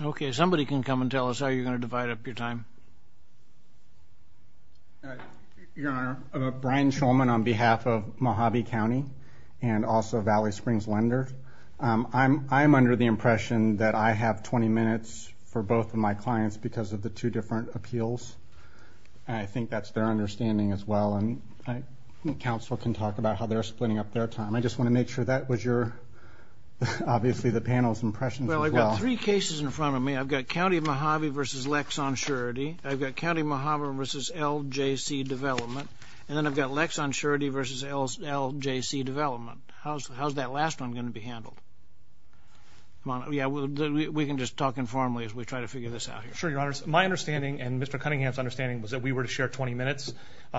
Okay, somebody can come and tell us how you're going to divide up your time. Your Honor, Brian Shulman on behalf of Mohave County, and also Valley Springs Lender. I'm under the impression that I have 20 minutes for both of my clients because of the two different appeals. I think that's their understanding as well. And I think counsel can talk about how they're splitting up their time. I just want to make sure that was your... Obviously the panel's impressions as well. I've got three cases in front of me. I've got County of Mohave versus Lexon Surety. I've got County of Mohave versus LJC Development. And then I've got Lexon Surety versus LJC Development. How's that last one going to be handled? Yeah, we can just talk informally as we try to figure this out. Sure, Your Honor. My understanding and Mr. Cunningham's understanding was that we were to share 20 minutes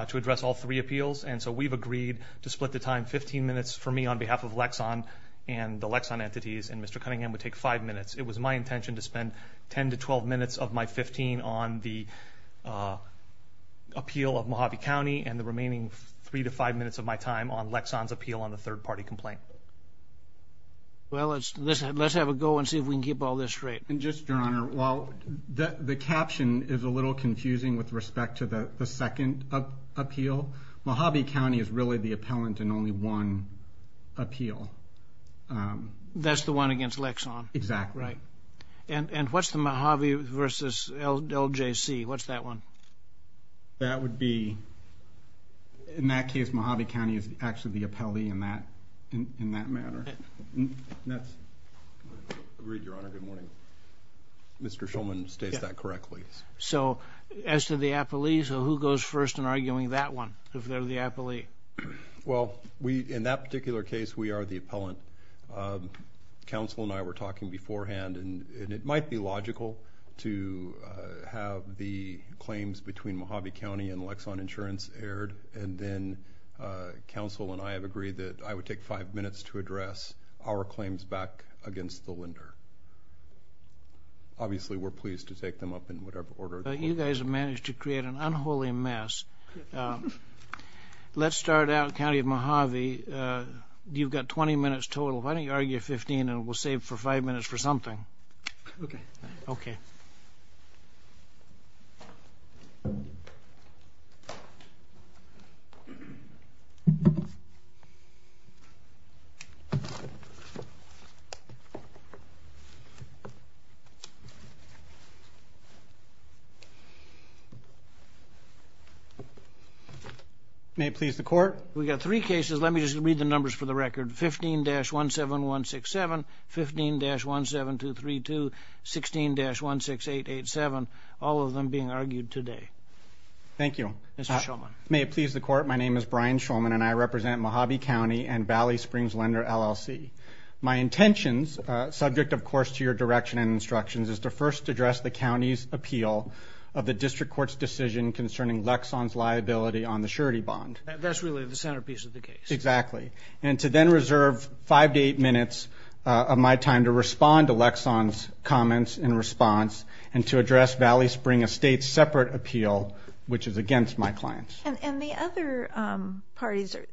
to address all three appeals. And so we've agreed to split the time 15 minutes for me on behalf of Lexon and the Lexon entities. And Mr. Cunningham would take five minutes. It was my intention to spend 10 to 12 minutes of my 15 on the appeal of Mohave County and the remaining three to five minutes of my time on Lexon's appeal on the third-party complaint. Well, let's have a go and see if we can keep all this straight. And just, Your Honor, while the caption is a little confusing with respect to the second appeal, Mohave County is really the appellant in only one appeal. That's the one against Lexon. Exactly. Right. And what's the Mohave versus LJC? What's that one? That would be, in that case, Mohave County is actually the appellee in that in that matter. Agreed, Your Honor. Good morning. Mr. Shulman states that correctly. So as to the appellee, so who goes first in arguing that one, if Well, we, in that particular case, we are the appellant. Counsel and I were talking beforehand, and it might be logical to have the claims between Mohave County and Lexon Insurance aired, and then counsel and I have agreed that I would take five minutes to address our claims back against the lender. Obviously, we're pleased to take them up in whatever order. You guys have managed to create an unholy mess. Let's start out, County of Mohave, you've got 20 minutes total. Why don't you argue 15, and we'll save for five minutes for something. Okay. May it please the court. We got three cases. Let me just read the numbers for the record. 15-17167, 15-17232, 16-16887, all of them being argued today. Thank you. Mr. Shulman. May it please the court, my name is Brian Shulman, and I represent Mohave County and Valley Springs Lender LLC. My intentions, subject of course to your direction and instructions, is to first address the decision concerning Lexon's liability on the surety bond. That's really the centerpiece of the case. Exactly, and to then reserve five to eight minutes of my time to respond to Lexon's comments in response, and to address Valley Spring, a state-separate appeal, which is against my clients. And the other parties or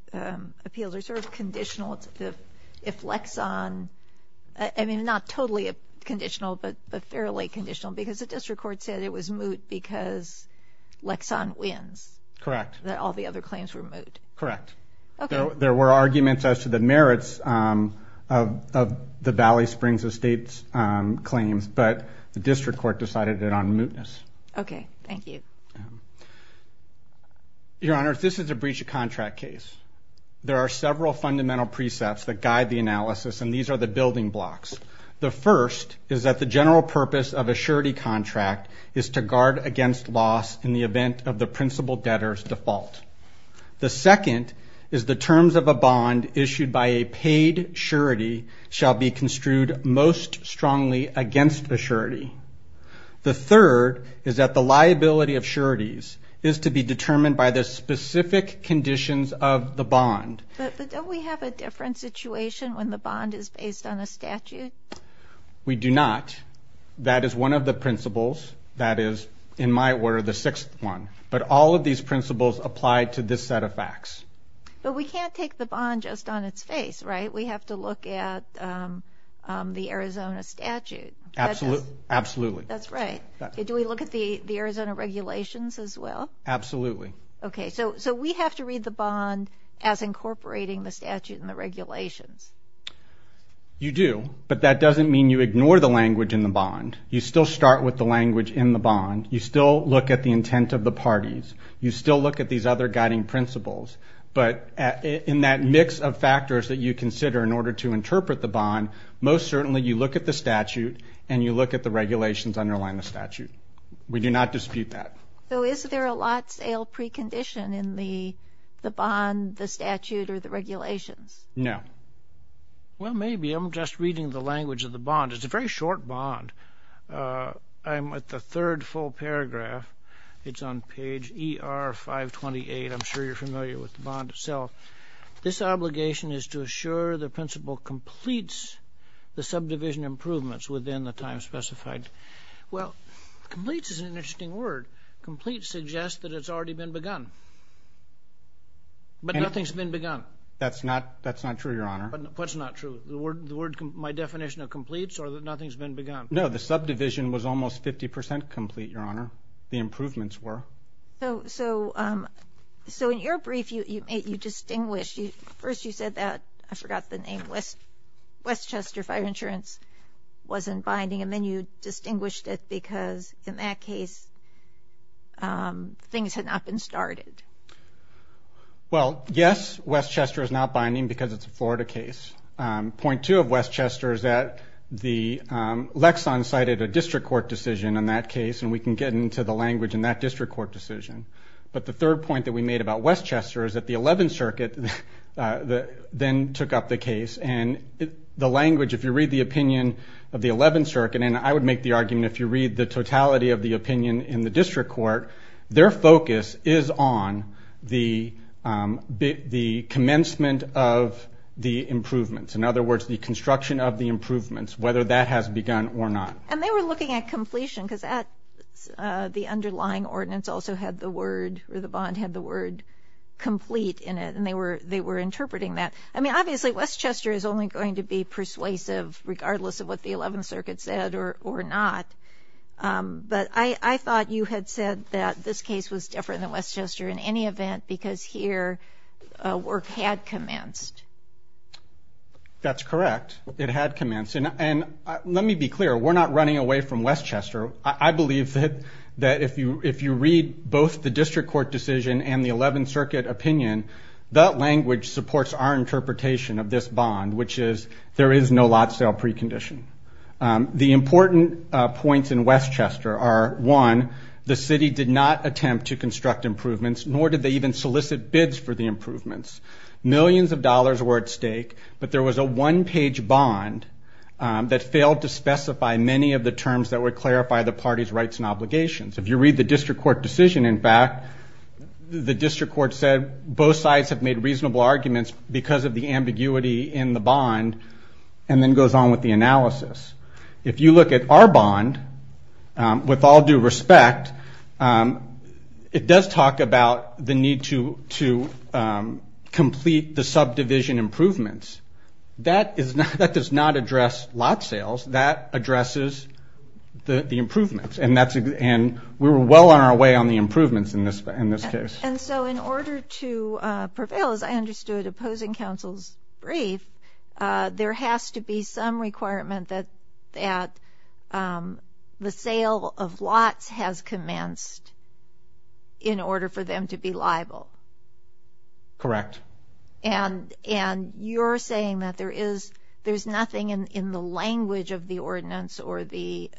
appeals are sort of conditional. If Lexon, I mean not totally a conditional, but fairly conditional, because the district court said it was moot because Lexon wins. Correct. That all the other claims were moot. Correct. There were arguments as to the merits of the Valley Springs estate's claims, but the district court decided it on mootness. Okay, thank you. Your Honor, this is a breach of contract case. There are several fundamental precepts that guide the analysis, and these are the building blocks. The first is that the general purpose of a surety contract is to guard against loss in the event of the principal debtor's default. The second is the terms of a bond issued by a paid surety shall be construed most strongly against a surety. The third is that the liability of sureties is to be determined by the specific conditions of the bond. But don't we have a different situation when the bond is based on a bond? That is one of the principles. That is, in my word, the sixth one. But all of these principles apply to this set of facts. But we can't take the bond just on its face, right? We have to look at the Arizona statute. Absolutely. That's right. Do we look at the Arizona regulations as well? Absolutely. Okay, so we have to read the bond as incorporating the statute and the bond. You still start with the language in the bond. You still look at the intent of the parties. You still look at these other guiding principles. But in that mix of factors that you consider in order to interpret the bond, most certainly you look at the statute and you look at the regulations underlying the statute. We do not dispute that. So is there a lot sale precondition in the bond, the statute, or the regulations? No. Well, maybe. I'm just reading the bond. I'm at the third full paragraph. It's on page ER 528. I'm sure you're familiar with the bond itself. This obligation is to assure the principal completes the subdivision improvements within the time specified. Well, completes is an interesting word. Completes suggest that it's already been begun. But nothing's been begun. That's not, that's not true, Your Honor. What's not true? The subdivision was almost 50 percent complete, Your Honor. The improvements were. So in your brief, you distinguished, first you said that, I forgot the name, Westchester Fire Insurance wasn't binding. And then you distinguished it because in that case, things had not been started. Well, yes, Westchester is not binding because it's a Florida case. Point two of Westchester is that the Lexon cited a district court decision in that case. And we can get into the language in that district court decision. But the third point that we made about Westchester is that the 11th Circuit then took up the case. And the language, if you read the opinion of the 11th Circuit, and I would make the argument if you read the totality of the opinion in the district court, their focus is on the commencement of the improvements. In other words, the construction of the improvements, whether that has begun or not. And they were looking at completion because the underlying ordinance also had the word, or the bond had the word, complete in it. And they were interpreting that. I mean, obviously Westchester is only going to be persuasive regardless of what the 11th Circuit said or not. But I thought you had said that this case was different than Westchester in any event because here work had commenced. That's correct. It had commenced. And let me be clear, we're not running away from Westchester. I believe that if you read both the district court decision and the 11th Circuit opinion, that language supports our interpretation of this bond, which is there is no lot sale precondition. The important points in Westchester are, one, the city did not attempt to construct improvements, nor did they even solicit bids for the improvements. Millions of dollars were at stake, but there was a one-page bond that failed to specify many of the terms that would clarify the party's rights and obligations. If you read the district court decision, in fact, the district court said both sides have made reasonable arguments because of the ambiguity in the bond, and then goes on with the analysis. If you look at our respect, it does talk about the need to complete the subdivision improvements. That does not address lot sales. That addresses the improvements, and we were well on our way on the improvements in this case. And so in order to prevail, as I understood, opposing counsel's brief, there has to be some requirement that the sale of lots has commenced in order for them to be liable. Correct. And you're saying that there is nothing in the language of the ordinance or the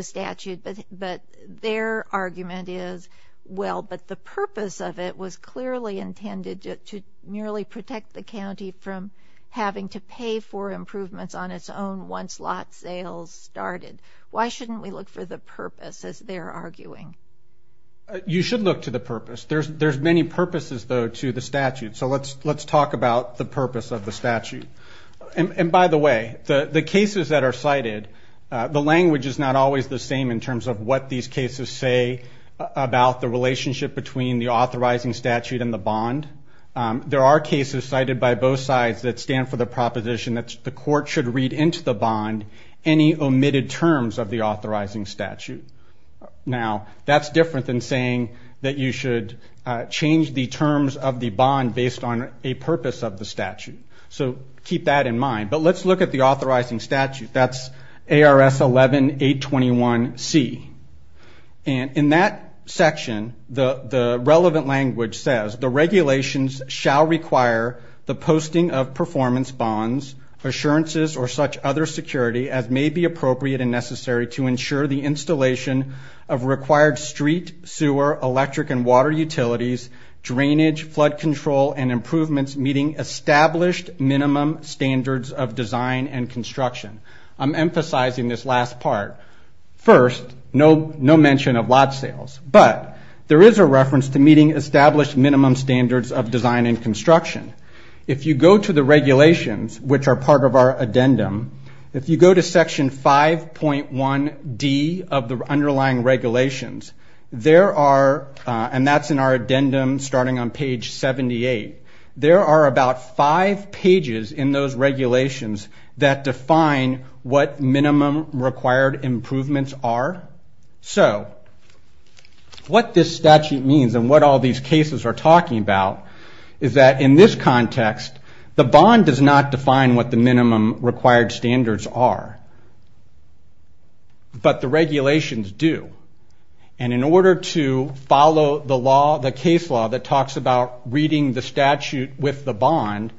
statute, but their argument is, well, but the purpose of it was clearly intended to merely protect the county from having to pay for once lot sales started. Why shouldn't we look for the purpose as they're arguing? You should look to the purpose. There's many purposes, though, to the statute. So let's talk about the purpose of the statute. And by the way, the cases that are cited, the language is not always the same in terms of what these cases say about the relationship between the authorizing statute and the bond. There are cases cited by both sides that stand for the proposition that the court should read into the bond any omitted terms of the authorizing statute. Now, that's different than saying that you should change the terms of the bond based on a purpose of the statute. So keep that in mind. But let's look at the authorizing statute. That's ARS 11821C. And in that section, the relevant language says, the regulations shall require the posting of performance bonds, assurances, or such other security as may be appropriate and necessary to ensure the installation of required street, sewer, electric, and water utilities, drainage, flood control, and improvements meeting established minimum standards of design and construction. I'm emphasizing this last part. First, no mention of lot sales. But there is a reference to meeting established minimum standards of design and construction. If you go to the regulations, which are part of our addendum, if you go to section 5.1D of the underlying regulations, there are, and that's in our addendum starting on page 78, there are about five pages in those regulations that define what minimum required improvements are. So, what this statute means and what all these cases are talking about is that in this context, the bond does not define what the minimum required standards are. But the regulations do. And in order to follow the case law that talks about reading the statute with the bond,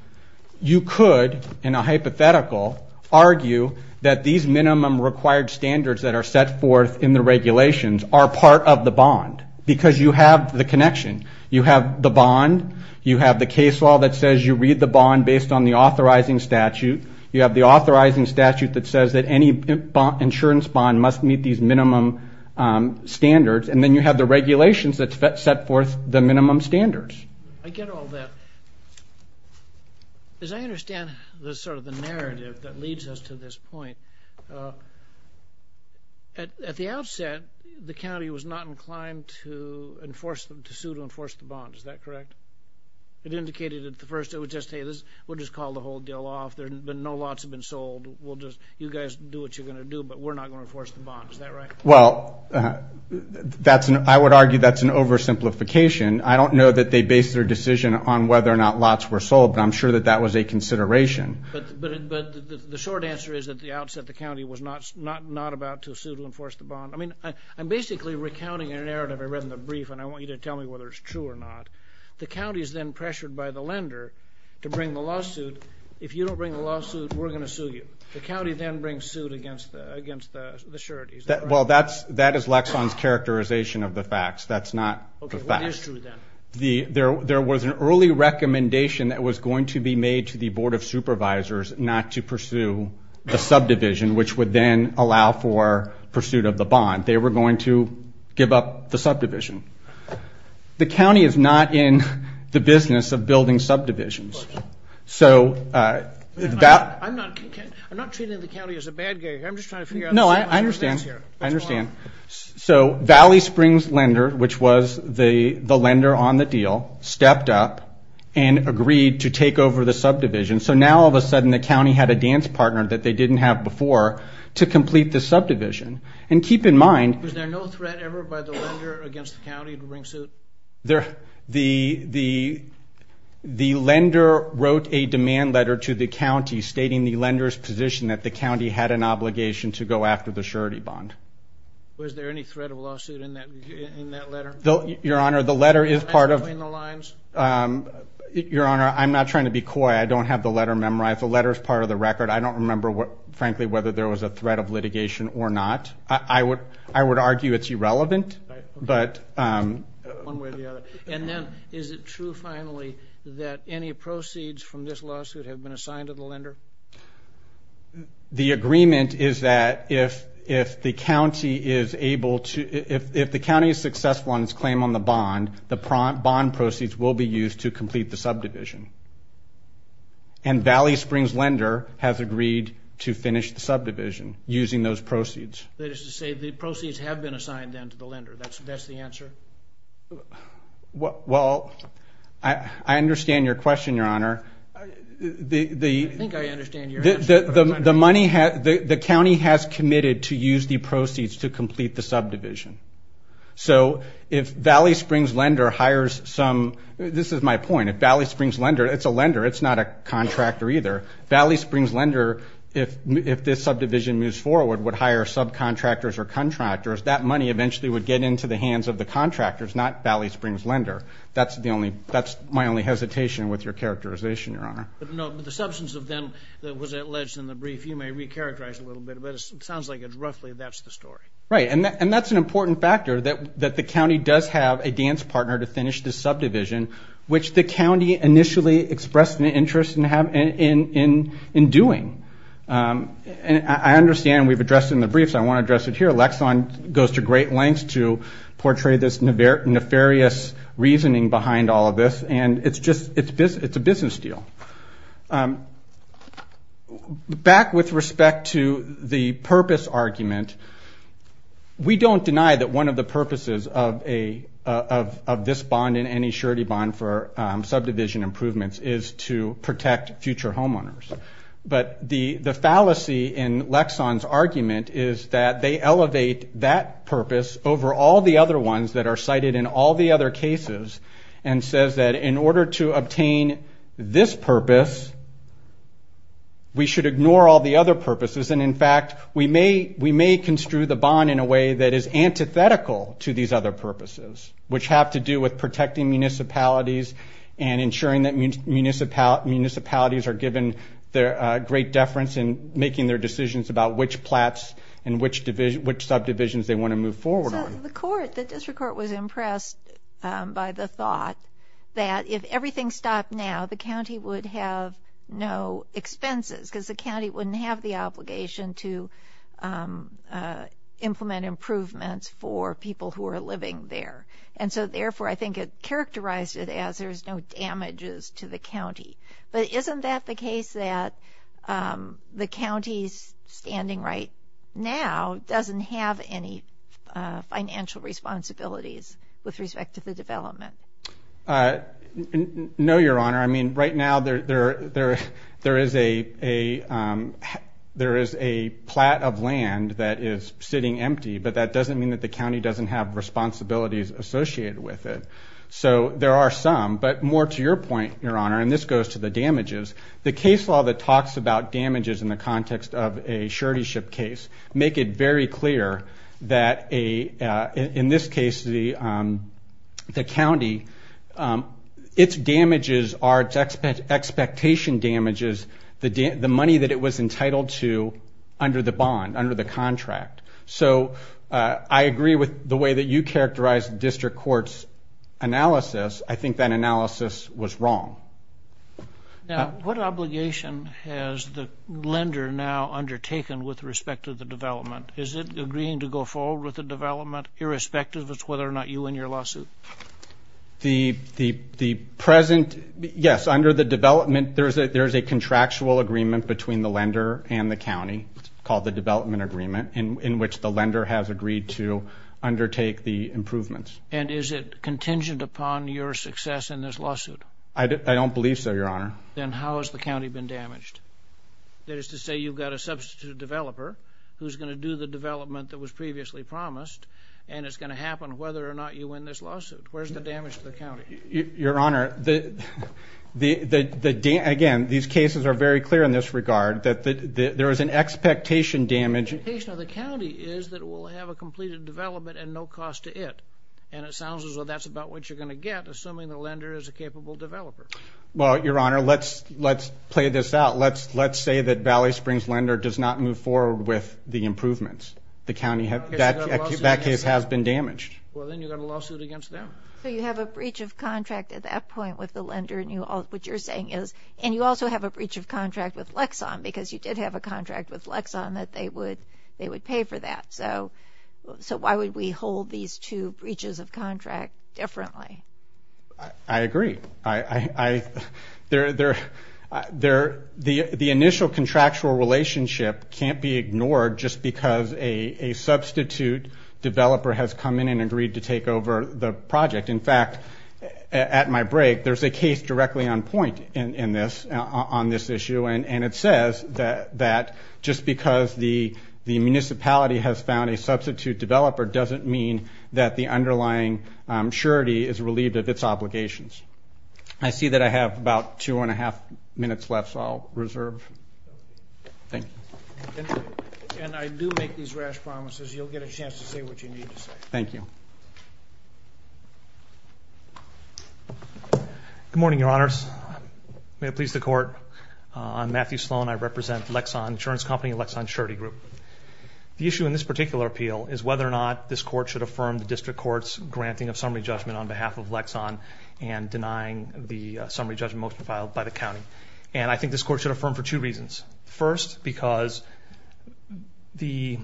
you could, in a hypothetical, argue that these minimum required standards that are set forth in the regulations are part of the bond. Because you have the connection. You have the bond. You have the case law that says you read the bond based on the authorizing statute. You have the authorizing statute that says that any insurance bond must meet these minimum standards. And then you have the regulations that set forth the minimum standards. I get all that. As I understand the sort of the narrative that leads us to this point, at the outset, the county was not inclined to enforce them, to sue to enforce the bond. Is that correct? It indicated at the first, it would just say this, we'll just call the whole deal off. There's been, no lots have been sold. We'll just, you guys do what you're going to do, but we're not going to enforce the bond. Is that right? Well, that's an, I would argue that's an oversimplification. I don't know that they based their decision on whether or not lots were sold, but I'm sure that that was a consideration. But the short answer is at the outset, the county was not about to sue to enforce the bond. I mean, I'm basically recounting a narrative I read in the brief, and I want you to tell me whether it's true or not. The county is then pressured by the lender to bring the lawsuit. If you don't bring the lawsuit, we're going to sue you. The county then brings suit against the surety, is that right? Well, that is Lexon's characterization of the facts. That's not the facts. Okay, what is true then? There was an early recommendation that was going to be made to the Board of Supervisors not to pursue the subdivision, which would then allow for pursuit of the bond. They were going to give up the subdivision. The county is not in the business of building subdivisions, so that... I'm not treating the county as a bad guy here. I'm just trying to figure out... No, I understand. I understand. So Valley Springs Lender, which was the lender on the deal, stepped up and agreed to take over the subdivision. So now, all of a sudden, the county had a dance partner that they didn't have before to complete the subdivision. And keep in mind... Was there no threat ever by the lender against the county to bring suit? The lender wrote a demand letter to the county stating the lender's position that the county had an obligation to go after the surety bond. Was there any threat of lawsuit in that letter? Your Honor, the letter is part of... Can you match between the lines? Your Honor, I'm not trying to be coy. I don't have the letter memorized. The letter is part of the record. I don't remember, frankly, whether there was a threat of litigation or not. I would argue it's irrelevant, but... One way or the other. And then, is it true, finally, that any proceeds from this lawsuit have been assigned to the lender? The agreement is that if the county is successful in its claim on the bond, the bond proceeds will be used to complete the subdivision. And Valley Springs Lender has agreed to finish the subdivision using those proceeds. That is to say, the proceeds have been assigned, then, to the lender. That's the answer? Well, I understand your question, Your Honor. I think I understand your answer, but I'm not sure. The county has committed to use the proceeds to complete the subdivision. So, if Valley Springs Lender hires some... This is my point. If Valley Springs Lender... It's a lender. It's not a contractor, either. Valley Springs Lender, if this subdivision moves forward, would hire subcontractors or contractors. That money, eventually, would get into the hands of the contractors, not Valley Springs Lender. That's my only hesitation with your characterization, Your Honor. But the substance of then that was alleged in the brief, you may recharacterize a little bit, but it sounds like it's roughly that's the story. Right. And that's an important factor, that the county does have a dance partner to finish the subdivision, which the county initially expressed an interest in doing. And I understand we've addressed it in the brief, so I want to address it here. Lexon goes to great lengths to portray this nefarious reasoning behind all of this, and it's a business deal. Back with respect to the purpose argument, we don't deny that one of the purposes of this bond and any surety bond for subdivision improvements is to protect future homeowners. But the fallacy in Lexon's argument is that they elevate that purpose over all the other ones that are cited in all the other cases, and says that in order to obtain this purpose, we should ignore all the other purposes. And in fact, we may construe the bond in a way that is antithetical to these other purposes, which have to do with protecting municipalities and ensuring that municipalities are given great deference in making their decisions about which subdivisions they want to move forward on. So the court, the district court was impressed by the thought that if everything stopped now, the county would have no expenses, because the county wouldn't have the obligation to implement improvements for people who are living there. And so therefore, I think it characterized it as there's no damages to the county. But isn't that the case that the county's standing right now doesn't have any financial responsibilities with respect to the development? No, Your Honor. I mean, right now, there is a plat of land that is sitting empty, but that doesn't mean that the county doesn't have responsibilities associated with it. So there are some, but more to your point, Your Honor, and this goes to the law that talks about damages in the context of a suretyship case, make it very clear that in this case, the county, its damages are its expectation damages, the money that it was entitled to under the bond, under the contract. So I agree with the way that you characterized the district court's I think that analysis was wrong. Now, what obligation has the lender now undertaken with respect to the development? Is it agreeing to go forward with the development, irrespective of whether or not you win your lawsuit? The present, yes, under the development, there's a contractual agreement between the lender and the county called the development agreement, in which the lender has agreed to undertake the improvements. And is it contingent upon your success in this lawsuit? I don't believe so, Your Honor. Then how has the county been damaged? That is to say, you've got a substitute developer who's gonna do the development that was previously promised, and it's gonna happen whether or not you win this lawsuit. Where's the damage to the county? Your Honor, again, these cases are very clear in this regard, that there is an expectation damage. The expectation of the county is that it will have a completed development at no cost to it. And it sounds as though that's about what you're gonna get, assuming the lender is a capable developer. Well, Your Honor, let's play this out. Let's say that Valley Springs Lender does not move forward with the improvements. That case has been damaged. Well, then you've got a lawsuit against them. So you have a breach of contract at that point with the lender, and what you're saying is... And you also have a breach of contract with Lexon, because you did have a contract with Lexon that they would pay for that. So why would we hold these two breaches of contract differently? I agree. The initial contractual relationship can't be ignored just because a substitute developer has come in and agreed to take over the project. In fact, at my break, there's a case directly on point in this, on this issue, and it says that just because the municipality has found a substitute developer doesn't mean that the underlying surety is relieved of its obligations. I see that I have about two and a half minutes left, so I'll reserve. Thank you. And I do make these rash promises. You'll get a chance to say what you need to say. Thank you. Good morning, Your Honors. May it please the Court. I'm Matthew Sloan. I represent Lexon Insurance Company, Lexon Surety Group. The issue in this particular appeal is whether or not this court should affirm the district court's granting of summary judgment on behalf of Lexon and denying the summary judgment motion filed by the county. And I think this court should affirm for two reasons. First, because the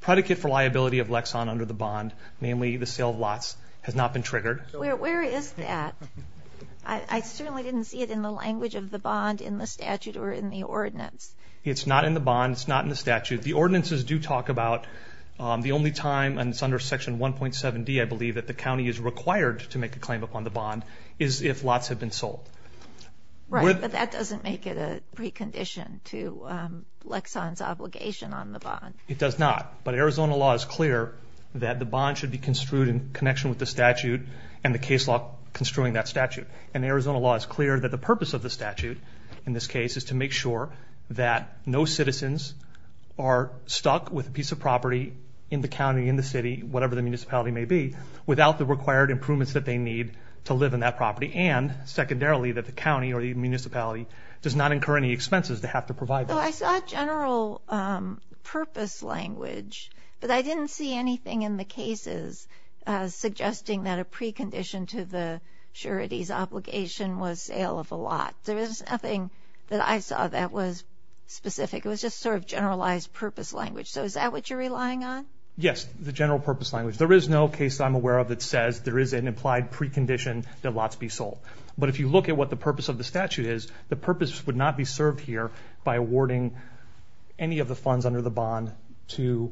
predicate for liability of Lexon under the bond, namely the sale of lots, has not been triggered. Where is that? I certainly didn't see it in the language of the bond, in the statute, or in the ordinance. It's not in the bond, it's not in the statute. The ordinances do talk about the only time, and it's under Section 1.7D, I believe, that the county is required to make a claim upon the bond, is if lots have been sold. Right, but that doesn't make it a precondition to Lexon's obligation on the bond. It does not. But Arizona law is clear that the bond should be construed in connection with the statute and the case law construing that statute. And Arizona law is clear that the bond should be construed in connection with the statute and the case law. And Arizona law is clear that no citizens are stuck with a piece of property in the county, in the city, whatever the municipality may be, without the required improvements that they need to live in that property. And secondarily, that the county or the municipality does not incur any expenses they have to provide. So I saw general purpose language, but I didn't see anything in the cases suggesting that a precondition to the surety's obligation was sale of a property. The only thing that I saw that was specific, it was just sort of generalized purpose language. So is that what you're relying on? Yes, the general purpose language. There is no case that I'm aware of that says there is an implied precondition that lots be sold. But if you look at what the purpose of the statute is, the purpose would not be served here by awarding any of the funds under the bond to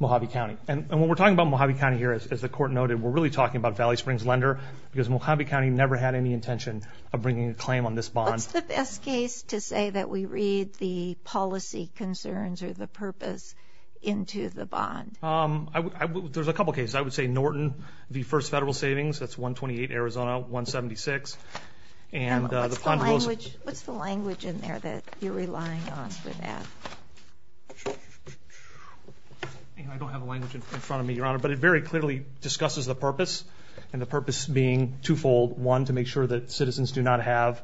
Mojave County. And when we're talking about Mojave County here, as the court noted, we're really talking about Valley Springs Lender, because Mojave County never had any intention of bringing a claim on this bond. What's the best case to say that we read the policy concerns or the purpose into the bond? There's a couple of cases. I would say Norton v. First Federal Savings, that's 128 Arizona, 176. And what's the language in there that you're relying on for that? I don't have a language in front of me, Your Honor, but it very clearly discusses the purpose, and the purpose being twofold. One, to make sure that citizens do not have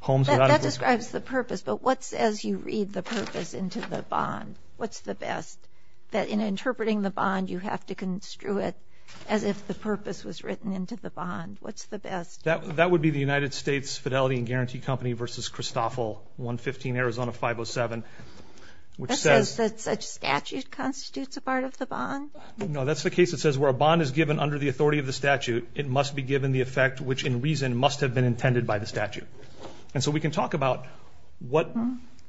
homes without... That describes the purpose, but what's as you read the purpose into the bond? What's the best? That in interpreting the bond, you have to construe it as if the purpose was written into the bond. What's the best? That would be the United States Fidelity and Guarantee Company v. Christoffel, 115 Arizona 507, which says... That says that such statute constitutes a part of the bond? No, that's the case that says where a bond is given under the authority of the statute, it must be given the effect which in reason must have been intended by the statute. And so we can talk about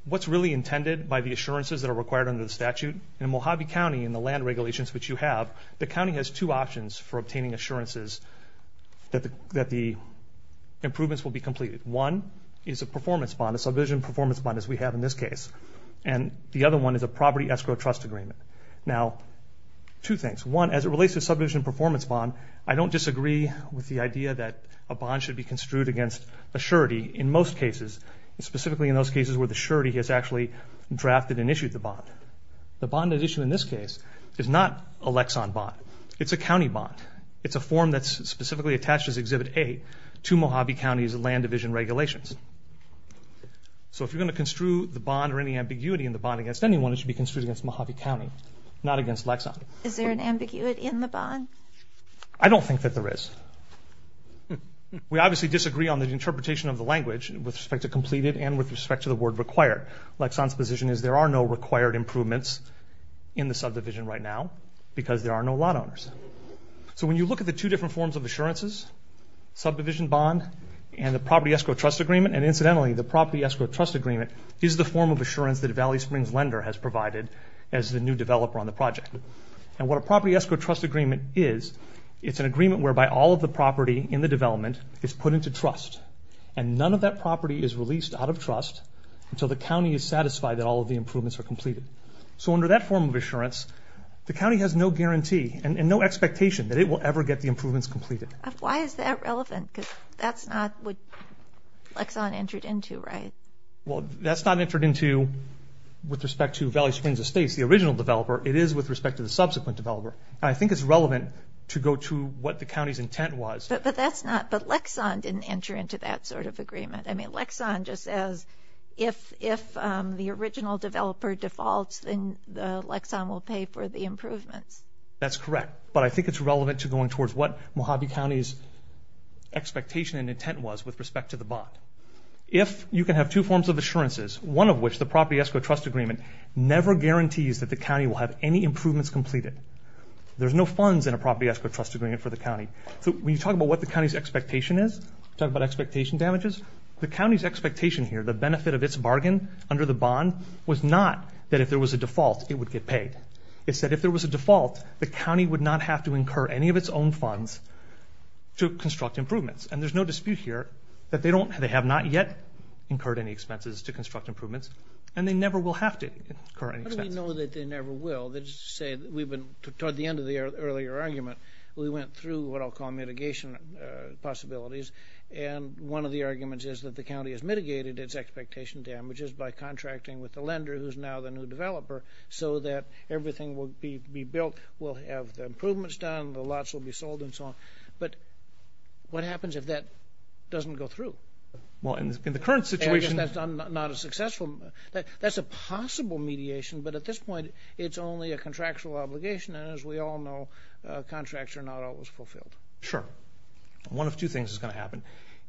what's really intended by the assurances that are required under the statute. In Mojave County, in the land regulations which you have, the county has two options for obtaining assurances that the improvements will be completed. One is a performance bond, a subdivision performance bond, as we have in this case. And the other one is a property escrow trust agreement. Now, two things. One, as it relates to subdivision performance bond, I don't disagree with the idea that a bond should be construed against a surety in most cases, and specifically in those cases where the surety has actually drafted and issued the bond. The bond at issue in this case is not a Lexon bond, it's a county bond. It's a form that's specifically attached as Exhibit 8 to Mojave County's land division regulations. So if you're gonna construe the bond or any ambiguity in the bond against anyone, it should be construed against Mojave County, not against Lexon. Is there an ambiguity in the bond? I don't think that there is. We obviously disagree on the interpretation of the language with respect to completed and with respect to the word required. Lexon's position is there are no required improvements in the subdivision right now because there are no lot owners. So when you look at the two different forms of assurances, subdivision bond and the property escrow trust agreement, that Valley Springs lender has provided as the new developer on the project. And what a property escrow trust agreement is, it's an agreement whereby all of the property in the development is put into trust and none of that property is released out of trust until the county is satisfied that all of the improvements are completed. So under that form of assurance, the county has no guarantee and no expectation that it will ever get the improvements completed. Why is that relevant? That's not what Lexon entered into, right? Well, that's not entered into with respect to Valley Springs Estates, the original developer. It is with respect to the subsequent developer. And I think it's relevant to go to what the county's intent was. But that's not... But Lexon didn't enter into that sort of agreement. I mean, Lexon just says if the original developer defaults, then Lexon will pay for the improvements. That's correct. But I think it's relevant to going towards what Mojave County's expectation and intent was with respect to the bond. If you can have two forms of assurances, one of which the property escrow trust agreement never guarantees that the county will have any improvements completed. There's no funds in a property escrow trust agreement for the county. So when you talk about what the county's expectation is, talk about expectation damages, the county's expectation here, the benefit of its bargain under the bond, was not that if there was a default, it would get paid. It said if there was a default, the county would not have to incur any of its own funds to construct improvements. There's no dispute here that they don't... They have not yet incurred any expenses to construct improvements, and they never will have to incur any expense. How do we know that they never will? Let's just say we've been... Toward the end of the earlier argument, we went through what I'll call mitigation possibilities. And one of the arguments is that the county has mitigated its expectation damages by contracting with the lender, who's now the new developer, so that everything will be built, we'll have the improvements done, the lots will be sold, doesn't go through. Well, in the current situation... I guess that's not a successful... That's a possible mediation, but at this point, it's only a contractual obligation, and as we all know, contracts are not always fulfilled. Sure. One of two things is gonna happen.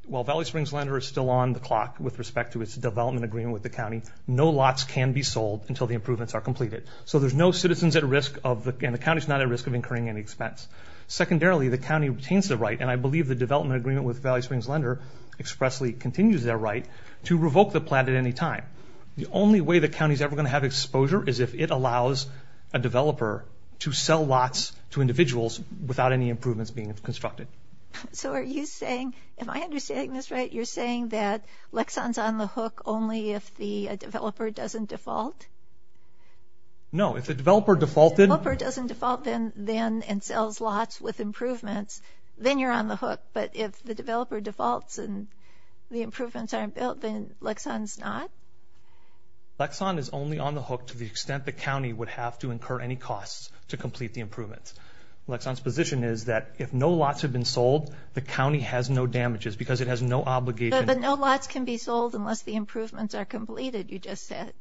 While Valley Springs Lender is still on the clock with respect to its development agreement with the county, no lots can be sold until the improvements are completed. So there's no citizens at risk of... And the county's not at risk of incurring any expense. Secondarily, the county retains the right, and I believe the development agreement with Valley Springs Lender expressly continues their right, to revoke the plan at any time. The only way the county's ever gonna have exposure is if it allows a developer to sell lots to individuals without any improvements being constructed. So are you saying... Am I understanding this right? You're saying that Lexon's on the hook only if the developer doesn't default? No, if the developer defaulted... If the developer doesn't default then and you're on the hook, but if the developer defaults and the improvements aren't built, then Lexon's not? Lexon is only on the hook to the extent the county would have to incur any costs to complete the improvements. Lexon's position is that if no lots have been sold, the county has no damages because it has no obligation... But no lots can be sold unless the improvements are completed, you just said.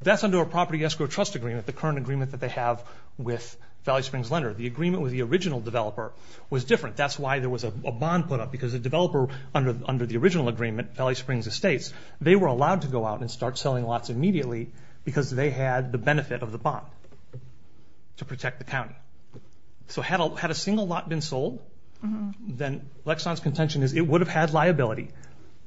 That's under a property escrow trust agreement, the current agreement that they have with Valley Springs Lender. The agreement with the original developer was different, that's why there was a bond put up because the developer under the original agreement, Valley Springs Estates, they were allowed to go out and start selling lots immediately because they had the benefit of the bond to protect the county. So had a single lot been sold, then Lexon's contention is it would have had liability,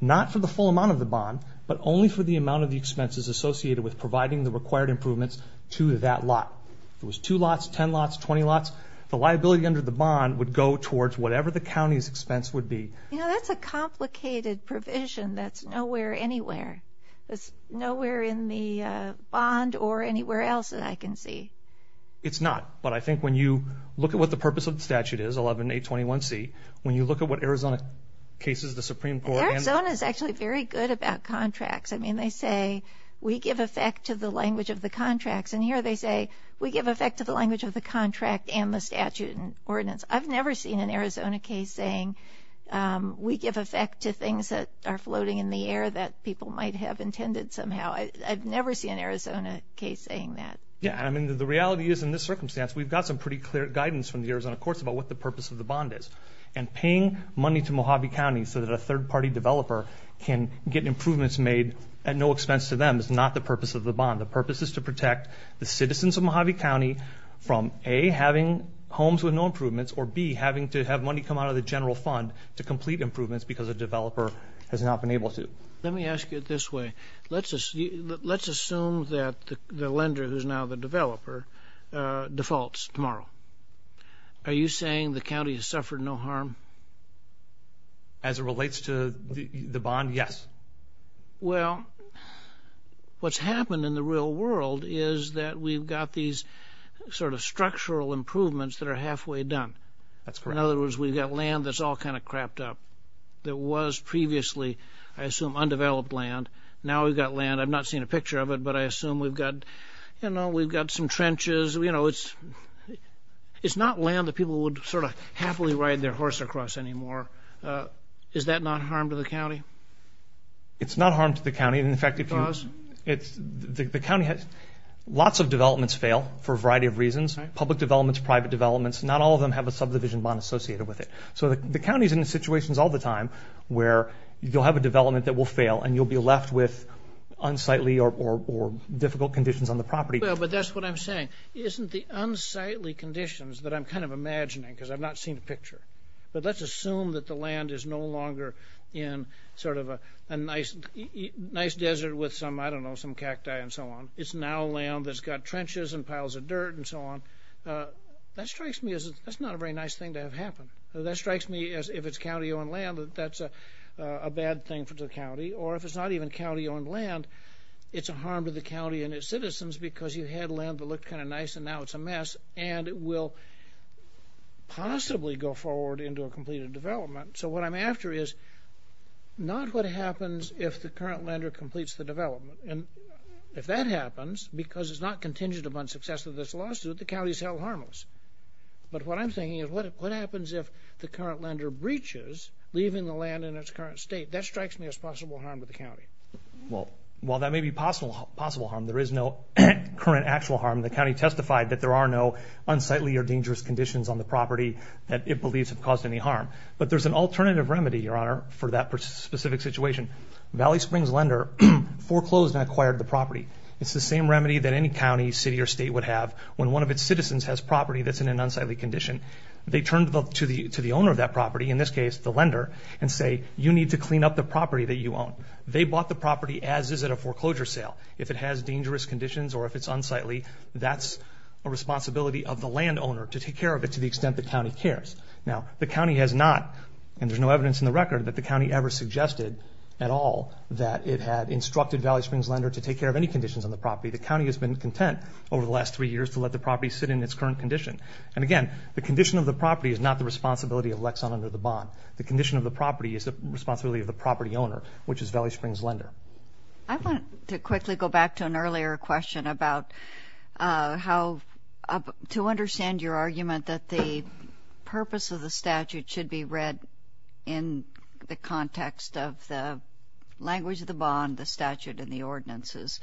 not for the full amount of the bond, but only for the amount of the expenses associated with providing the required improvements to that lot. If it was two lots, 10 lots, 20 lots, the liability under the bond would go towards whatever the county's expense would be. That's a complicated provision that's nowhere, anywhere. It's nowhere in the bond or anywhere else that I can see. It's not, but I think when you look at what the purpose of the statute is, 11821C, when you look at what Arizona cases the Supreme Court... Arizona is actually very good about contracts. They say, we give effect to the language of the contracts, and here they say, we give effect to the language of the contract and the statute and ordinance. I've never seen an Arizona case saying, we give effect to things that are floating in the air that people might have intended somehow. I've never seen an Arizona case saying that. Yeah, I mean, the reality is in this circumstance, we've got some pretty clear guidance from the Arizona courts about what the purpose of the bond is. And paying money to Mojave County so that a third party developer can get improvements made at no expense to them is not the purpose of the bond. The purpose is to protect the citizens of Mojave County from A, having homes with no improvements, or B, having to have money come out of the general fund to complete improvements because a developer has not been able to. Let me ask you it this way. Let's assume that the lender, who's now the developer, defaults tomorrow. Are you saying the county has suffered no harm? As it relates to the bond, yes. Well, what's happened in the real world is that we've got these sort of structural improvements that are halfway done. That's correct. In other words, we've got land that's all kind of crapped up. There was previously, I assume, undeveloped land. Now we've got land, I've not seen a picture of it, but I assume we've got some trenches. It's not land that people would sort of happily ride their horse across anymore. Is that not harm to the county? It's not harm to the county. And in fact, if you... Cause? The county has... Lots of developments fail for a variety of reasons. Public developments, private developments, not all of them have a subdivision bond associated with it. So the county's in situations all the time where you'll have a development that will fail and you'll be left with unsightly or difficult conditions on the property. Well, but that's what I'm saying. Isn't the unsightly conditions that I'm kind of imagining, because I've not seen a picture. But let's assume that the land is no longer in sort of a nice desert with some, I don't know, some cacti and so on. It's now land that's got trenches and piles of dirt and so on. That strikes me as... That's not a very nice thing to have happen. That strikes me as, if it's county owned land, that that's a bad thing for the county. Or if it's not even county owned land, it's a harm to the county and its citizens because you had land that looked kind of nice and now it's a mess, and it will possibly go forward into a completed development. So what I'm after is not what happens if the current lender completes the development. And if that happens, because it's not contingent upon success of this lawsuit, the county's held harmless. But what I'm thinking is, what happens if the current lender breaches, leaving the land in its current state? That strikes me as possible harm to the county. Well, while that may be possible harm, there is no current actual harm. The county testified that there are no unsightly or dangerous conditions on the property that it believes have caused any harm. But there's an alternative remedy, Your Honor, for that specific situation. Valley Springs lender foreclosed and acquired the property. It's the same remedy that any county, city, or state would have when one of its citizens has property that's in an unsightly condition. They turn to the owner of that property, in this case, the lender, and say, you need to clean up the property that you own. They bought the property as is at a foreclosure sale. If it has dangerous conditions or if it's unsightly, that's a responsibility of the landowner to take care of it to the extent the county cares. Now, the county has not, and there's no evidence in the record, that the county ever suggested at all that it had instructed Valley Springs lender to take care of any conditions on the property. The county has been content over the last three years to let the property sit in its current condition. And again, the condition of the property is not the responsibility of Lexon under the bond. The condition of the property is the responsibility of the property owner, which is Valley Springs lender. I want to quickly go back to an earlier question about how to understand your argument that the purpose of the statute should be read in the context of the language of the bond, the statute, and the ordinances.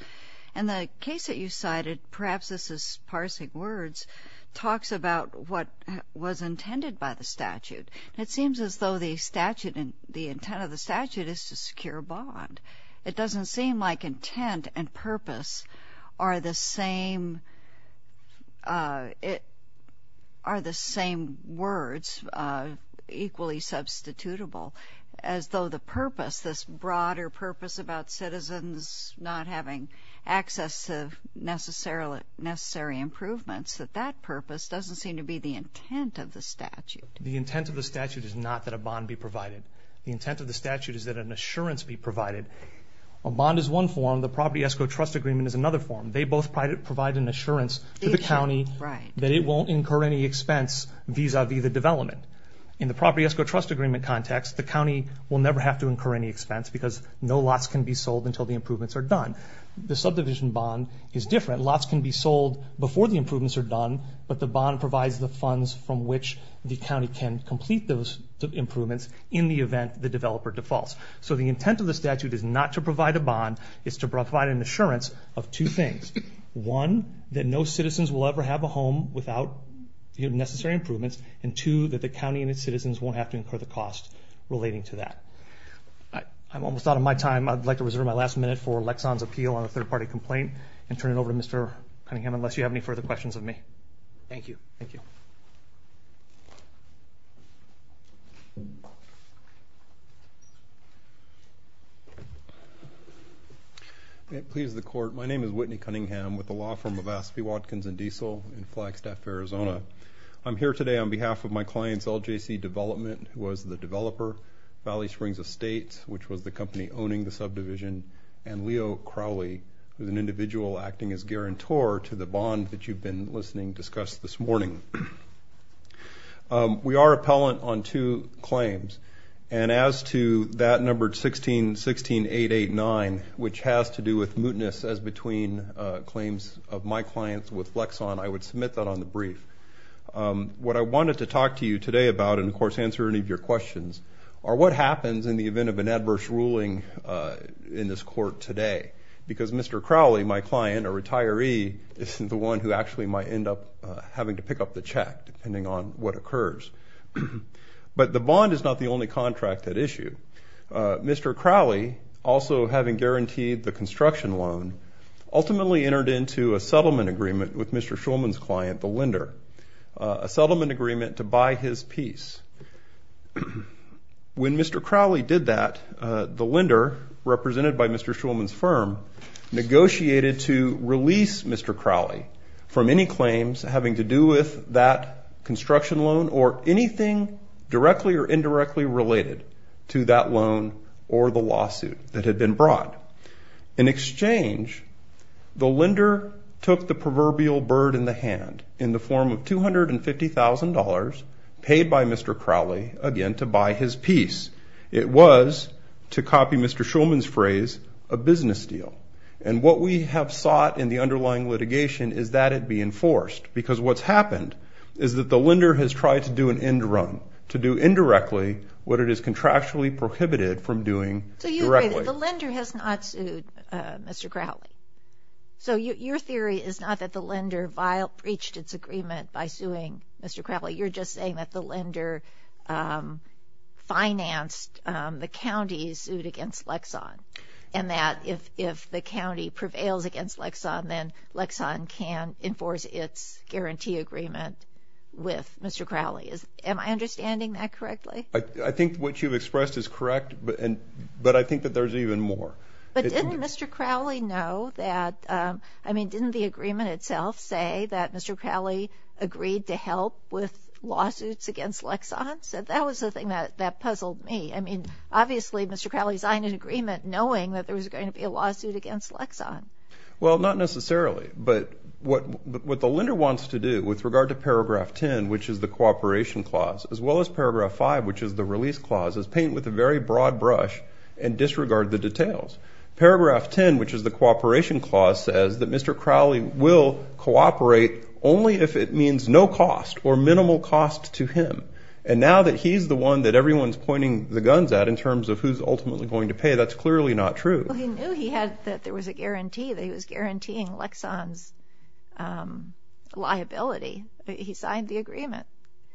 And the case that you cited, perhaps this is parsing words, talks about what was intended by the statute. It seems as though the statute, the intent of the statute is to secure a bond. It doesn't seem like intent and purpose are the same words, equally substitutable, as though the purpose, this broader purpose about citizens not having access to necessary improvements, that that purpose doesn't seem to be the intent of the statute. The intent of the statute is not that a bond be provided. The intent of the statute is that an assurance be provided. A bond is one form, the property escrow trust agreement is another form. They both provide an assurance to the county that it won't incur any expense vis a vis the development. In the property escrow trust agreement context, the county will never have to incur any expense because no lots can be sold until the improvements are done. The subdivision bond is different. Lots can be sold before the improvements are done, but the bond provides the funds from which the county can complete those improvements in the developer defaults. So the intent of the statute is not to provide a bond, it's to provide an assurance of two things. One, that no citizens will ever have a home without the necessary improvements, and two, that the county and its citizens won't have to incur the cost relating to that. I'm almost out of my time. I'd like to reserve my last minute for Lexon's appeal on a third party complaint and turn it over to Mr. Cunningham, unless you have any further questions of me. Thank you. Thank you. May it please the court. My name is Whitney Cunningham with the law firm of Aspie Watkins and Diesel in Flagstaff, Arizona. I'm here today on behalf of my clients, LJC Development, who was the developer, Valley Springs Estates, which was the company owning the subdivision, and Leo Crowley, who's an individual acting as guarantor to the bond that you've been listening to discuss this morning. We are appellant on two claims, and as to that number 1616889, which has to do with mootness as between claims of my clients with Lexon, I would submit that on the brief. What I wanted to talk to you today about, and of course answer any of your questions, are what happens in the event of an adverse ruling in this court today? Because Mr. Crowley, my client, a retiree, isn't the one who actually might end up having to pick up the check, depending on what occurs. But the bond is not the only contract that issued. Mr. Crowley, also having guaranteed the construction loan, ultimately entered into a settlement agreement with Mr. Schulman's client, the lender, a settlement agreement to buy his piece. When Mr. Crowley did that, the lender, represented by Mr. Schulman's firm, negotiated to release Mr. Crowley from any claims having to do with that construction loan or anything directly or indirectly related to that loan or the lawsuit that had been brought. In exchange, the lender took the proverbial bird in the hand in the form of $250,000 paid by Mr. Crowley, again, to buy his piece. It was, to copy Mr. Schulman's phrase, a business deal. And what we have sought in the underlying litigation is that it be enforced. Because what's happened is that the lender has tried to do an end run, to do indirectly what it has contractually prohibited from doing directly. So you agree that the lender has not sued Mr. Crowley? So your theory is not that the lender breached its agreement by suing Mr. Crowley. You're just saying that the lender financed the county's suit against Lexon, and that if the county prevails against Lexon, then Lexon can enforce its guarantee agreement with Mr. Crowley. Am I understanding that correctly? I think what you've expressed is correct, but I think that there's even more. But didn't Mr. Crowley know that... I mean, didn't the agreement itself say that Mr. Crowley would help with lawsuits against Lexon? That was the thing that puzzled me. I mean, obviously, Mr. Crowley signed an agreement knowing that there was going to be a lawsuit against Lexon. Well, not necessarily. But what the lender wants to do with regard to paragraph 10, which is the cooperation clause, as well as paragraph 5, which is the release clause, is paint with a very broad brush and disregard the details. Paragraph 10, which is the cooperation clause, says that Mr. Crowley will cooperate only if it means no cost or minimal cost to him. And now that he's the one that everyone's pointing the guns at in terms of who's ultimately going to pay, that's clearly not true. Well, he knew he had... That there was a guarantee that he was guaranteeing Lexon's liability. He signed the agreement.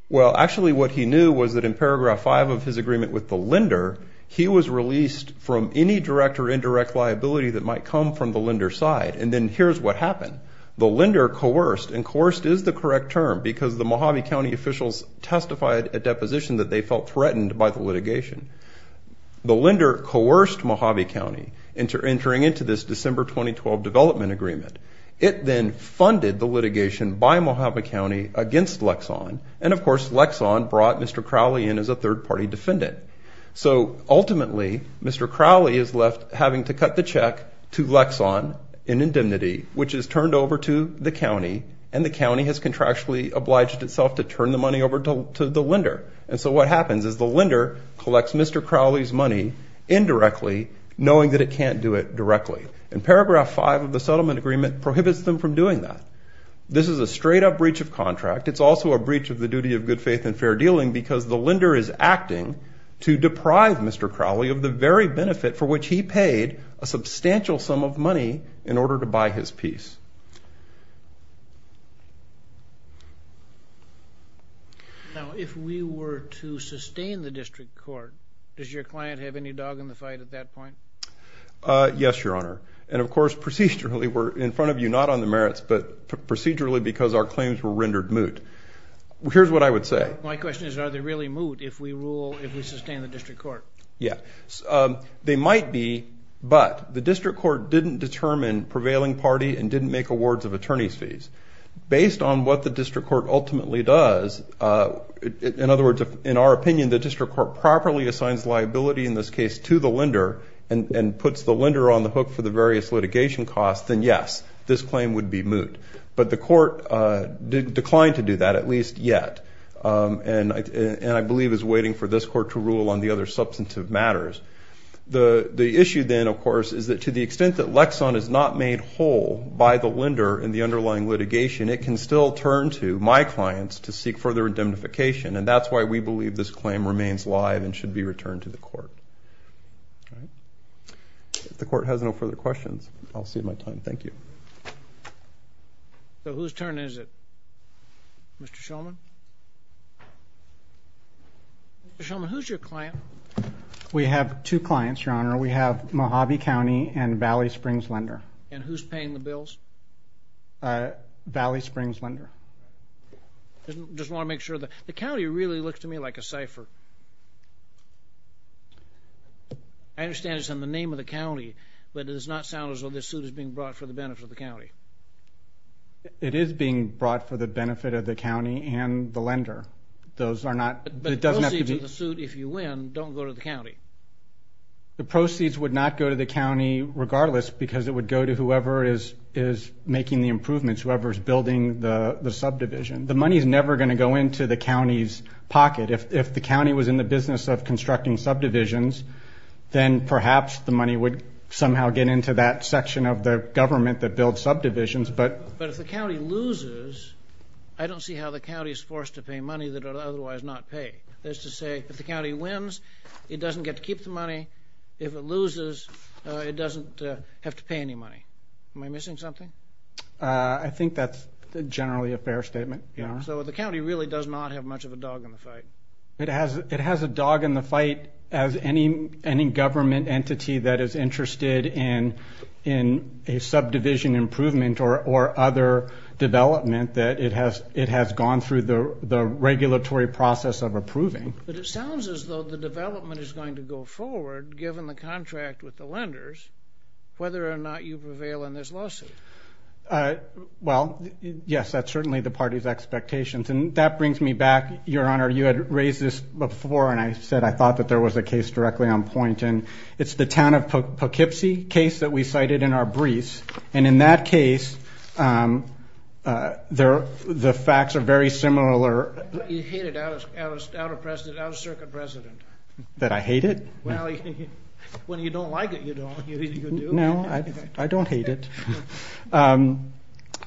Well, actually, what he knew was that in paragraph 5 of his agreement with the lender, he was released from any direct or indirect liability that might come from the lender's side. And then here's what happened. The lender coerced, and coerced is the correct term because the Mojave County officials testified at deposition that they felt threatened by the litigation. The lender coerced Mojave County into entering into this December 2012 development agreement. It then funded the litigation by Mojave County against Lexon. And of course, Lexon brought Mr. Crowley in as a third party defendant. So ultimately, Mr. Crowley is left having to cut the check to Lexon in indemnity, which is turned over to the county, and the county has contractually obliged itself to turn the money over to the lender. And so what happens is the lender collects Mr. Crowley's money indirectly, knowing that it can't do it directly. And paragraph 5 of the settlement agreement prohibits them from doing that. This is a straight up breach of contract. It's also a breach of the duty of good faith and fair dealing because the lender is acting to deprive Mr. Crowley of the very benefit for which he paid a substantial sum of money in order to buy his piece. Now, if we were to sustain the district court, does your client have any dog in the fight at that point? Yes, Your Honor. And of course, procedurally, we're in front of you, not on the merits, but procedurally, because our claims were rendered moot. Here's what I would say. My question is, are they really reasonable if we sustain the district court? Yeah. They might be, but the district court didn't determine prevailing party and didn't make awards of attorney's fees. Based on what the district court ultimately does, in other words, in our opinion, the district court properly assigns liability, in this case, to the lender and puts the lender on the hook for the various litigation costs, then yes, this claim would be moot. But the court declined to do that, at least yet, and I believe is waiting for this court to rule on the other substantive matters. The issue then, of course, is that to the extent that Lexon is not made whole by the lender in the underlying litigation, it can still turn to my clients to seek further indemnification, and that's why we believe this claim remains live and should be returned to the court. If the court has no further questions, I'll cede my time. Thank you. So whose turn is it? Mr. Shulman? Mr. Shulman, who's your client? We have two clients, Your Honor. We have Mojave County and Valley Springs Lender. And who's paying the bills? Valley Springs Lender. Just wanna make sure that... The county really looks to me like a cipher. I understand it's in the name of the county, but it does not sound as though this suit is being brought for the benefit of the county. It is being brought for the benefit of the county lender. Those are not... The proceeds of the suit, if you win, don't go to the county. The proceeds would not go to the county regardless, because it would go to whoever is making the improvements, whoever's building the subdivision. The money's never gonna go into the county's pocket. If the county was in the business of constructing subdivisions, then perhaps the money would somehow get into that section of the government that builds subdivisions, but... But if the money that it would otherwise not pay. That's to say, if the county wins, it doesn't get to keep the money. If it loses, it doesn't have to pay any money. Am I missing something? I think that's generally a fair statement, Your Honor. So the county really does not have much of a dog in the fight. It has a dog in the fight as any government entity that is interested in a subdivision improvement or other development that it has gone through the regulatory process of approving. But it sounds as though the development is going to go forward, given the contract with the lenders, whether or not you prevail in this lawsuit. Well, yes, that's certainly the party's expectations. And that brings me back, Your Honor. You had raised this before, and I said I thought that there was a case directly on point. And it's the town of Poughkeepsie case that we cited in our briefs. And in that case, the facts are very similar. You hate it out of circuit precedent. That I hate it? Well, when you don't like it, you do. No, I don't hate it.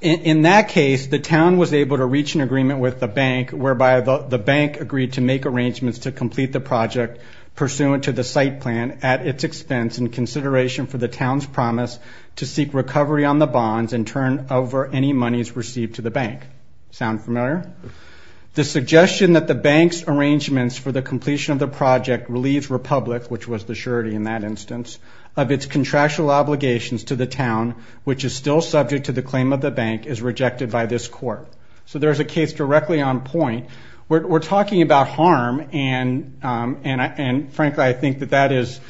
In that case, the town was able to reach an agreement with the bank, whereby the bank agreed to make arrangements to complete the project pursuant to the site plan at its expense in consideration for the any monies received to the bank. Sound familiar? The suggestion that the bank's arrangements for the completion of the project relieves Republic, which was the surety in that instance, of its contractual obligations to the town, which is still subject to the claim of the bank, is rejected by this court. So there's a case directly on point. We're talking about harm, and frankly, I think that that is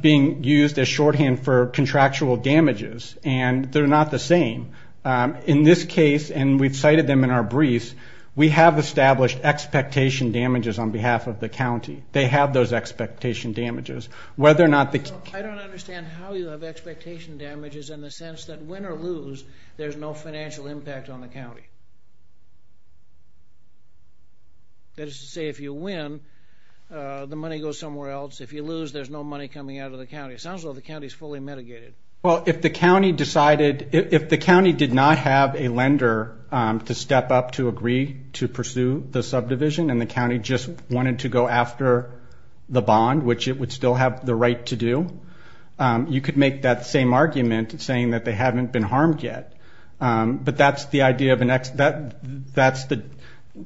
being used as shorthand for contractual damages. And they're not the same. In this case, and we've cited them in our briefs, we have established expectation damages on behalf of the county. They have those expectation damages. Whether or not the... I don't understand how you have expectation damages in the sense that win or lose, there's no financial impact on the county. That is to say, if you win, the money goes somewhere else. If you lose, there's no money coming out of the county. It sounds like the county's fully mitigated. Well, if the county decided... If the county did not have a lender to step up to agree to pursue the subdivision, and the county just wanted to go after the bond, which it would still have the right to do, you could make that same argument, saying that they haven't been harmed yet. But that's the idea of an...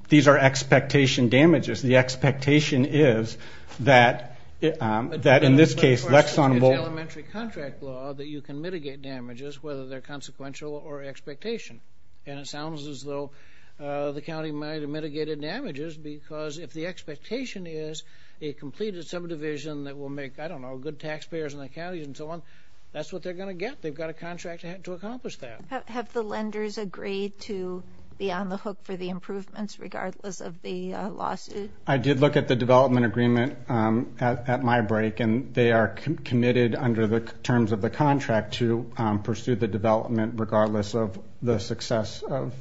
These are expectation damages. The expectation is that, in this case, Lexon will... The question is elementary contract law that you can mitigate damages, whether they're consequential or expectation. And it sounds as though the county might have mitigated damages, because if the expectation is a completed subdivision that will make, I don't know, good taxpayers in the county and so on, that's what they're gonna get. They've got a contract to accomplish that. Have the lenders agreed to be on the hook for the improvements, regardless of the lawsuit? I did look at the development agreement at my break, and they are committed under the terms of the contract to pursue the development, regardless of the success of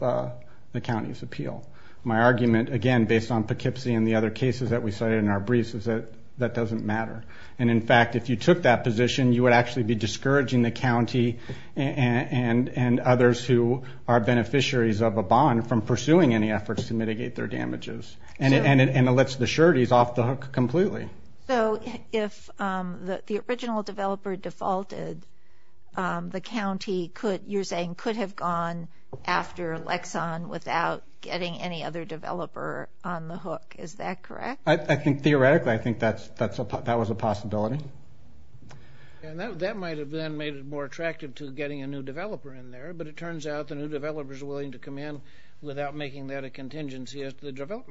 the county's appeal. My argument, again, based on Poughkeepsie and the other cases that we cited in our briefs, is that that doesn't matter. And in fact, if you took that position, you would actually be discouraging the county and others who are beneficiaries of a bond from pursuing any efforts to mitigate their damages. And it lets the sureties off the hook completely. So if the original developer defaulted, the county could, you're saying, could have gone after Lexon without getting any other developer on the hook, is that correct? I think theoretically, I think that was a possibility. And that might have then made it more attractive to getting a new developer in there, but it turns out the new developer's willing to come in without making that a contingency of the bond. But I do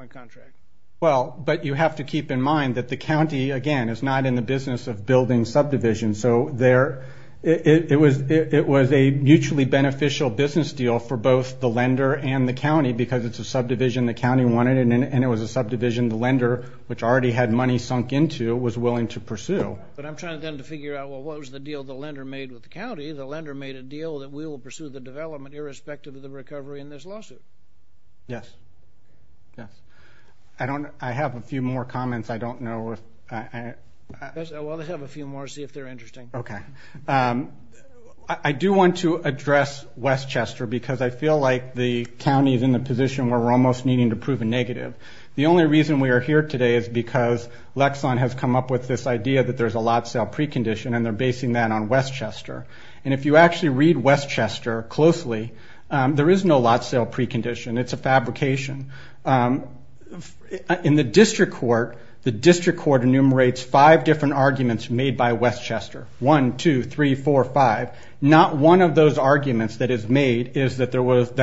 find that the county, again, is not in the business of building subdivisions. So there... It was a mutually beneficial business deal for both the lender and the county, because it's a subdivision the county wanted, and it was a subdivision the lender, which already had money sunk into, was willing to pursue. But I'm trying then to figure out, well, what was the deal the lender made with the county? The lender made a deal that we will pursue the development irrespective of the recovery in this lawsuit. Yes. Yes. I have a few more comments. I don't know if... Well, let's have a few more, see if they're interesting. Okay. I do want to address Westchester, because I feel like the county is in the position where we're almost needing to prove a negative. The only reason we are here today is because Lexon has come up with this idea that there's a lot sale precondition, and they're basing that on Westchester. And if you actually read Westchester closely, there is no lot sale precondition. It's a fabrication. In the district court, the district court enumerates five different arguments made by Westchester. One, two, three, four, five. Not one of those arguments that is made is that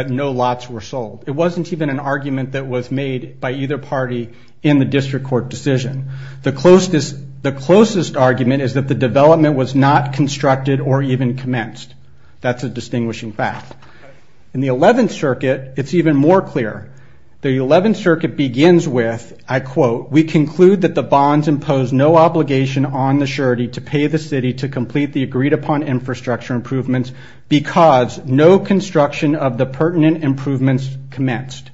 no lots were sold. It wasn't even an argument that was made by either party in the district court decision. The closest argument is that the development was not constructed or even commenced. That's a distinguishing fact. In the 11th circuit, it's even more clear. The 11th circuit begins with, I quote, we conclude that the bonds impose no obligation on the surety to pay the city to complete the agreed upon infrastructure improvements because no construction of the pertinent improvements commenced.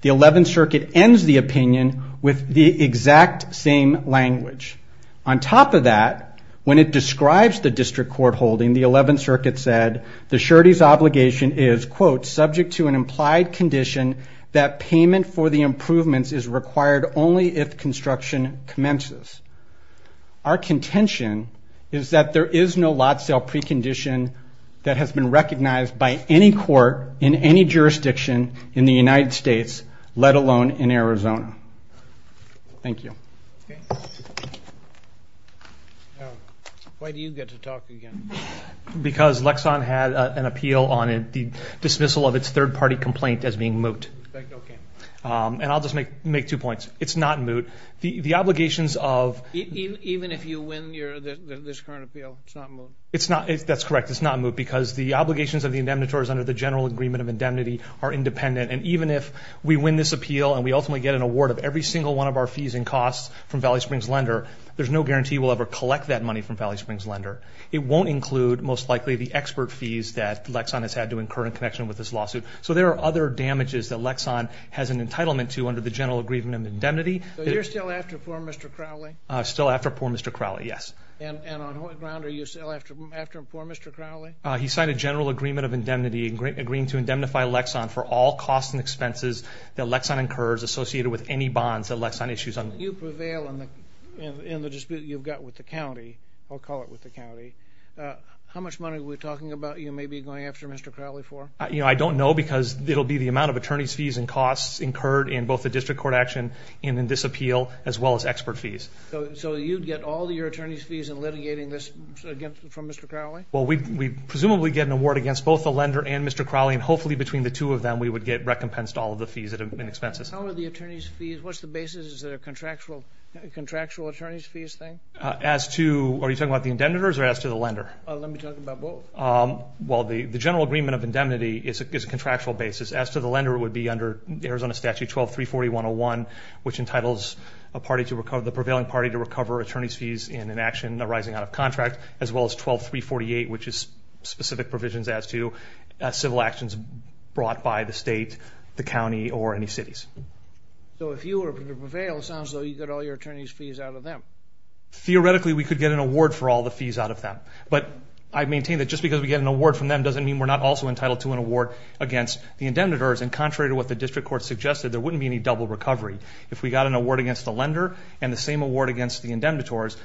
The 11th circuit ends the opinion with the exact same language. On top of that, when it describes the district court holding, the 11th circuit said, the surety's obligation is, quote, subject to an implied condition that payment for the improvements is required only if construction commences. Our contention is that there is no lot sale precondition that has been recognized by any court in any jurisdiction in the United States, let alone in Arizona. Thank you. Why do you get to talk again? Because Lexon had an dismissal of its third party complaint as being moot. Okay. And I'll just make two points. It's not moot. The obligations of... Even if you win this current appeal, it's not moot? That's correct. It's not moot because the obligations of the indemnitors under the general agreement of indemnity are independent. And even if we win this appeal and we ultimately get an award of every single one of our fees and costs from Valley Springs Lender, there's no guarantee we'll ever collect that money from Valley Springs Lender. It won't include, most likely, the expert fees that Lexon has had to incur in connection with this lawsuit. So there are other damages that Lexon has an entitlement to under the general agreement of indemnity. So you're still after poor Mr. Crowley? Still after poor Mr. Crowley, yes. And on what ground are you still after poor Mr. Crowley? He signed a general agreement of indemnity agreeing to indemnify Lexon for all costs and expenses that Lexon incurs associated with any bonds that Lexon issues on... You prevail in the dispute you've got with the county, I'll call it with the county. How much money are we talking about you may be going after Mr. Crowley for? I don't know because it'll be the amount of attorney's fees and costs incurred in both the district court action and in this appeal, as well as expert fees. So you'd get all your attorney's fees in litigating this from Mr. Crowley? Well, we presumably get an award against both the lender and Mr. Crowley, and hopefully between the two of them, we would get recompensed all of the fees and expenses. How are the attorney's fees... What's the basis? Is it a contractual attorney's fees thing? As to... Are you talking about the indemnitors or as to the lender? Let me talk about both. Well, the general agreement of indemnity is a contractual basis. As to the lender, it would be under Arizona Statute 12340.101, which entitles the prevailing party to recover attorney's fees in an action arising out of contract, as well as 12348, which is specific provisions as to civil actions brought by the state, the county, or any cities. So if you were to prevail, it sounds though, you'd get all your attorney's fees out of them. Theoretically, we could get an award for all the fees out of them. But I maintain that just because we get an award from them doesn't mean we're not also entitled to an award against the indemnitors. And contrary to what the district court suggested, there wouldn't be any double recovery. If we got an award against the lender and the same award against the indemnitors,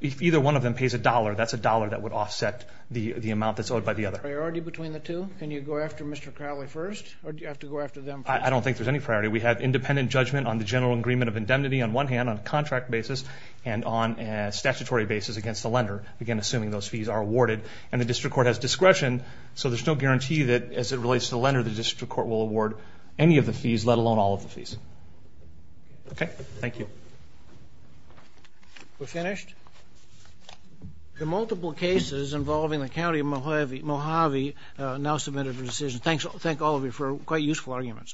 if either one of them pays a dollar, that's a dollar that would offset the amount that's owed by the other. Priority between the two? Can you go after Mr. Crowley first, or do you have to go after them first? I don't think there's any priority. We have independent judgment on the general agreement of one hand, on a contract basis, and on a statutory basis against the lender, again, assuming those fees are awarded. And the district court has discretion, so there's no guarantee that as it relates to the lender, the district court will award any of the fees, let alone all of the fees. Okay, thank you. We're finished? There are multiple cases involving the county of Mojave now submitted for decision. Thank all of you for quite useful arguments.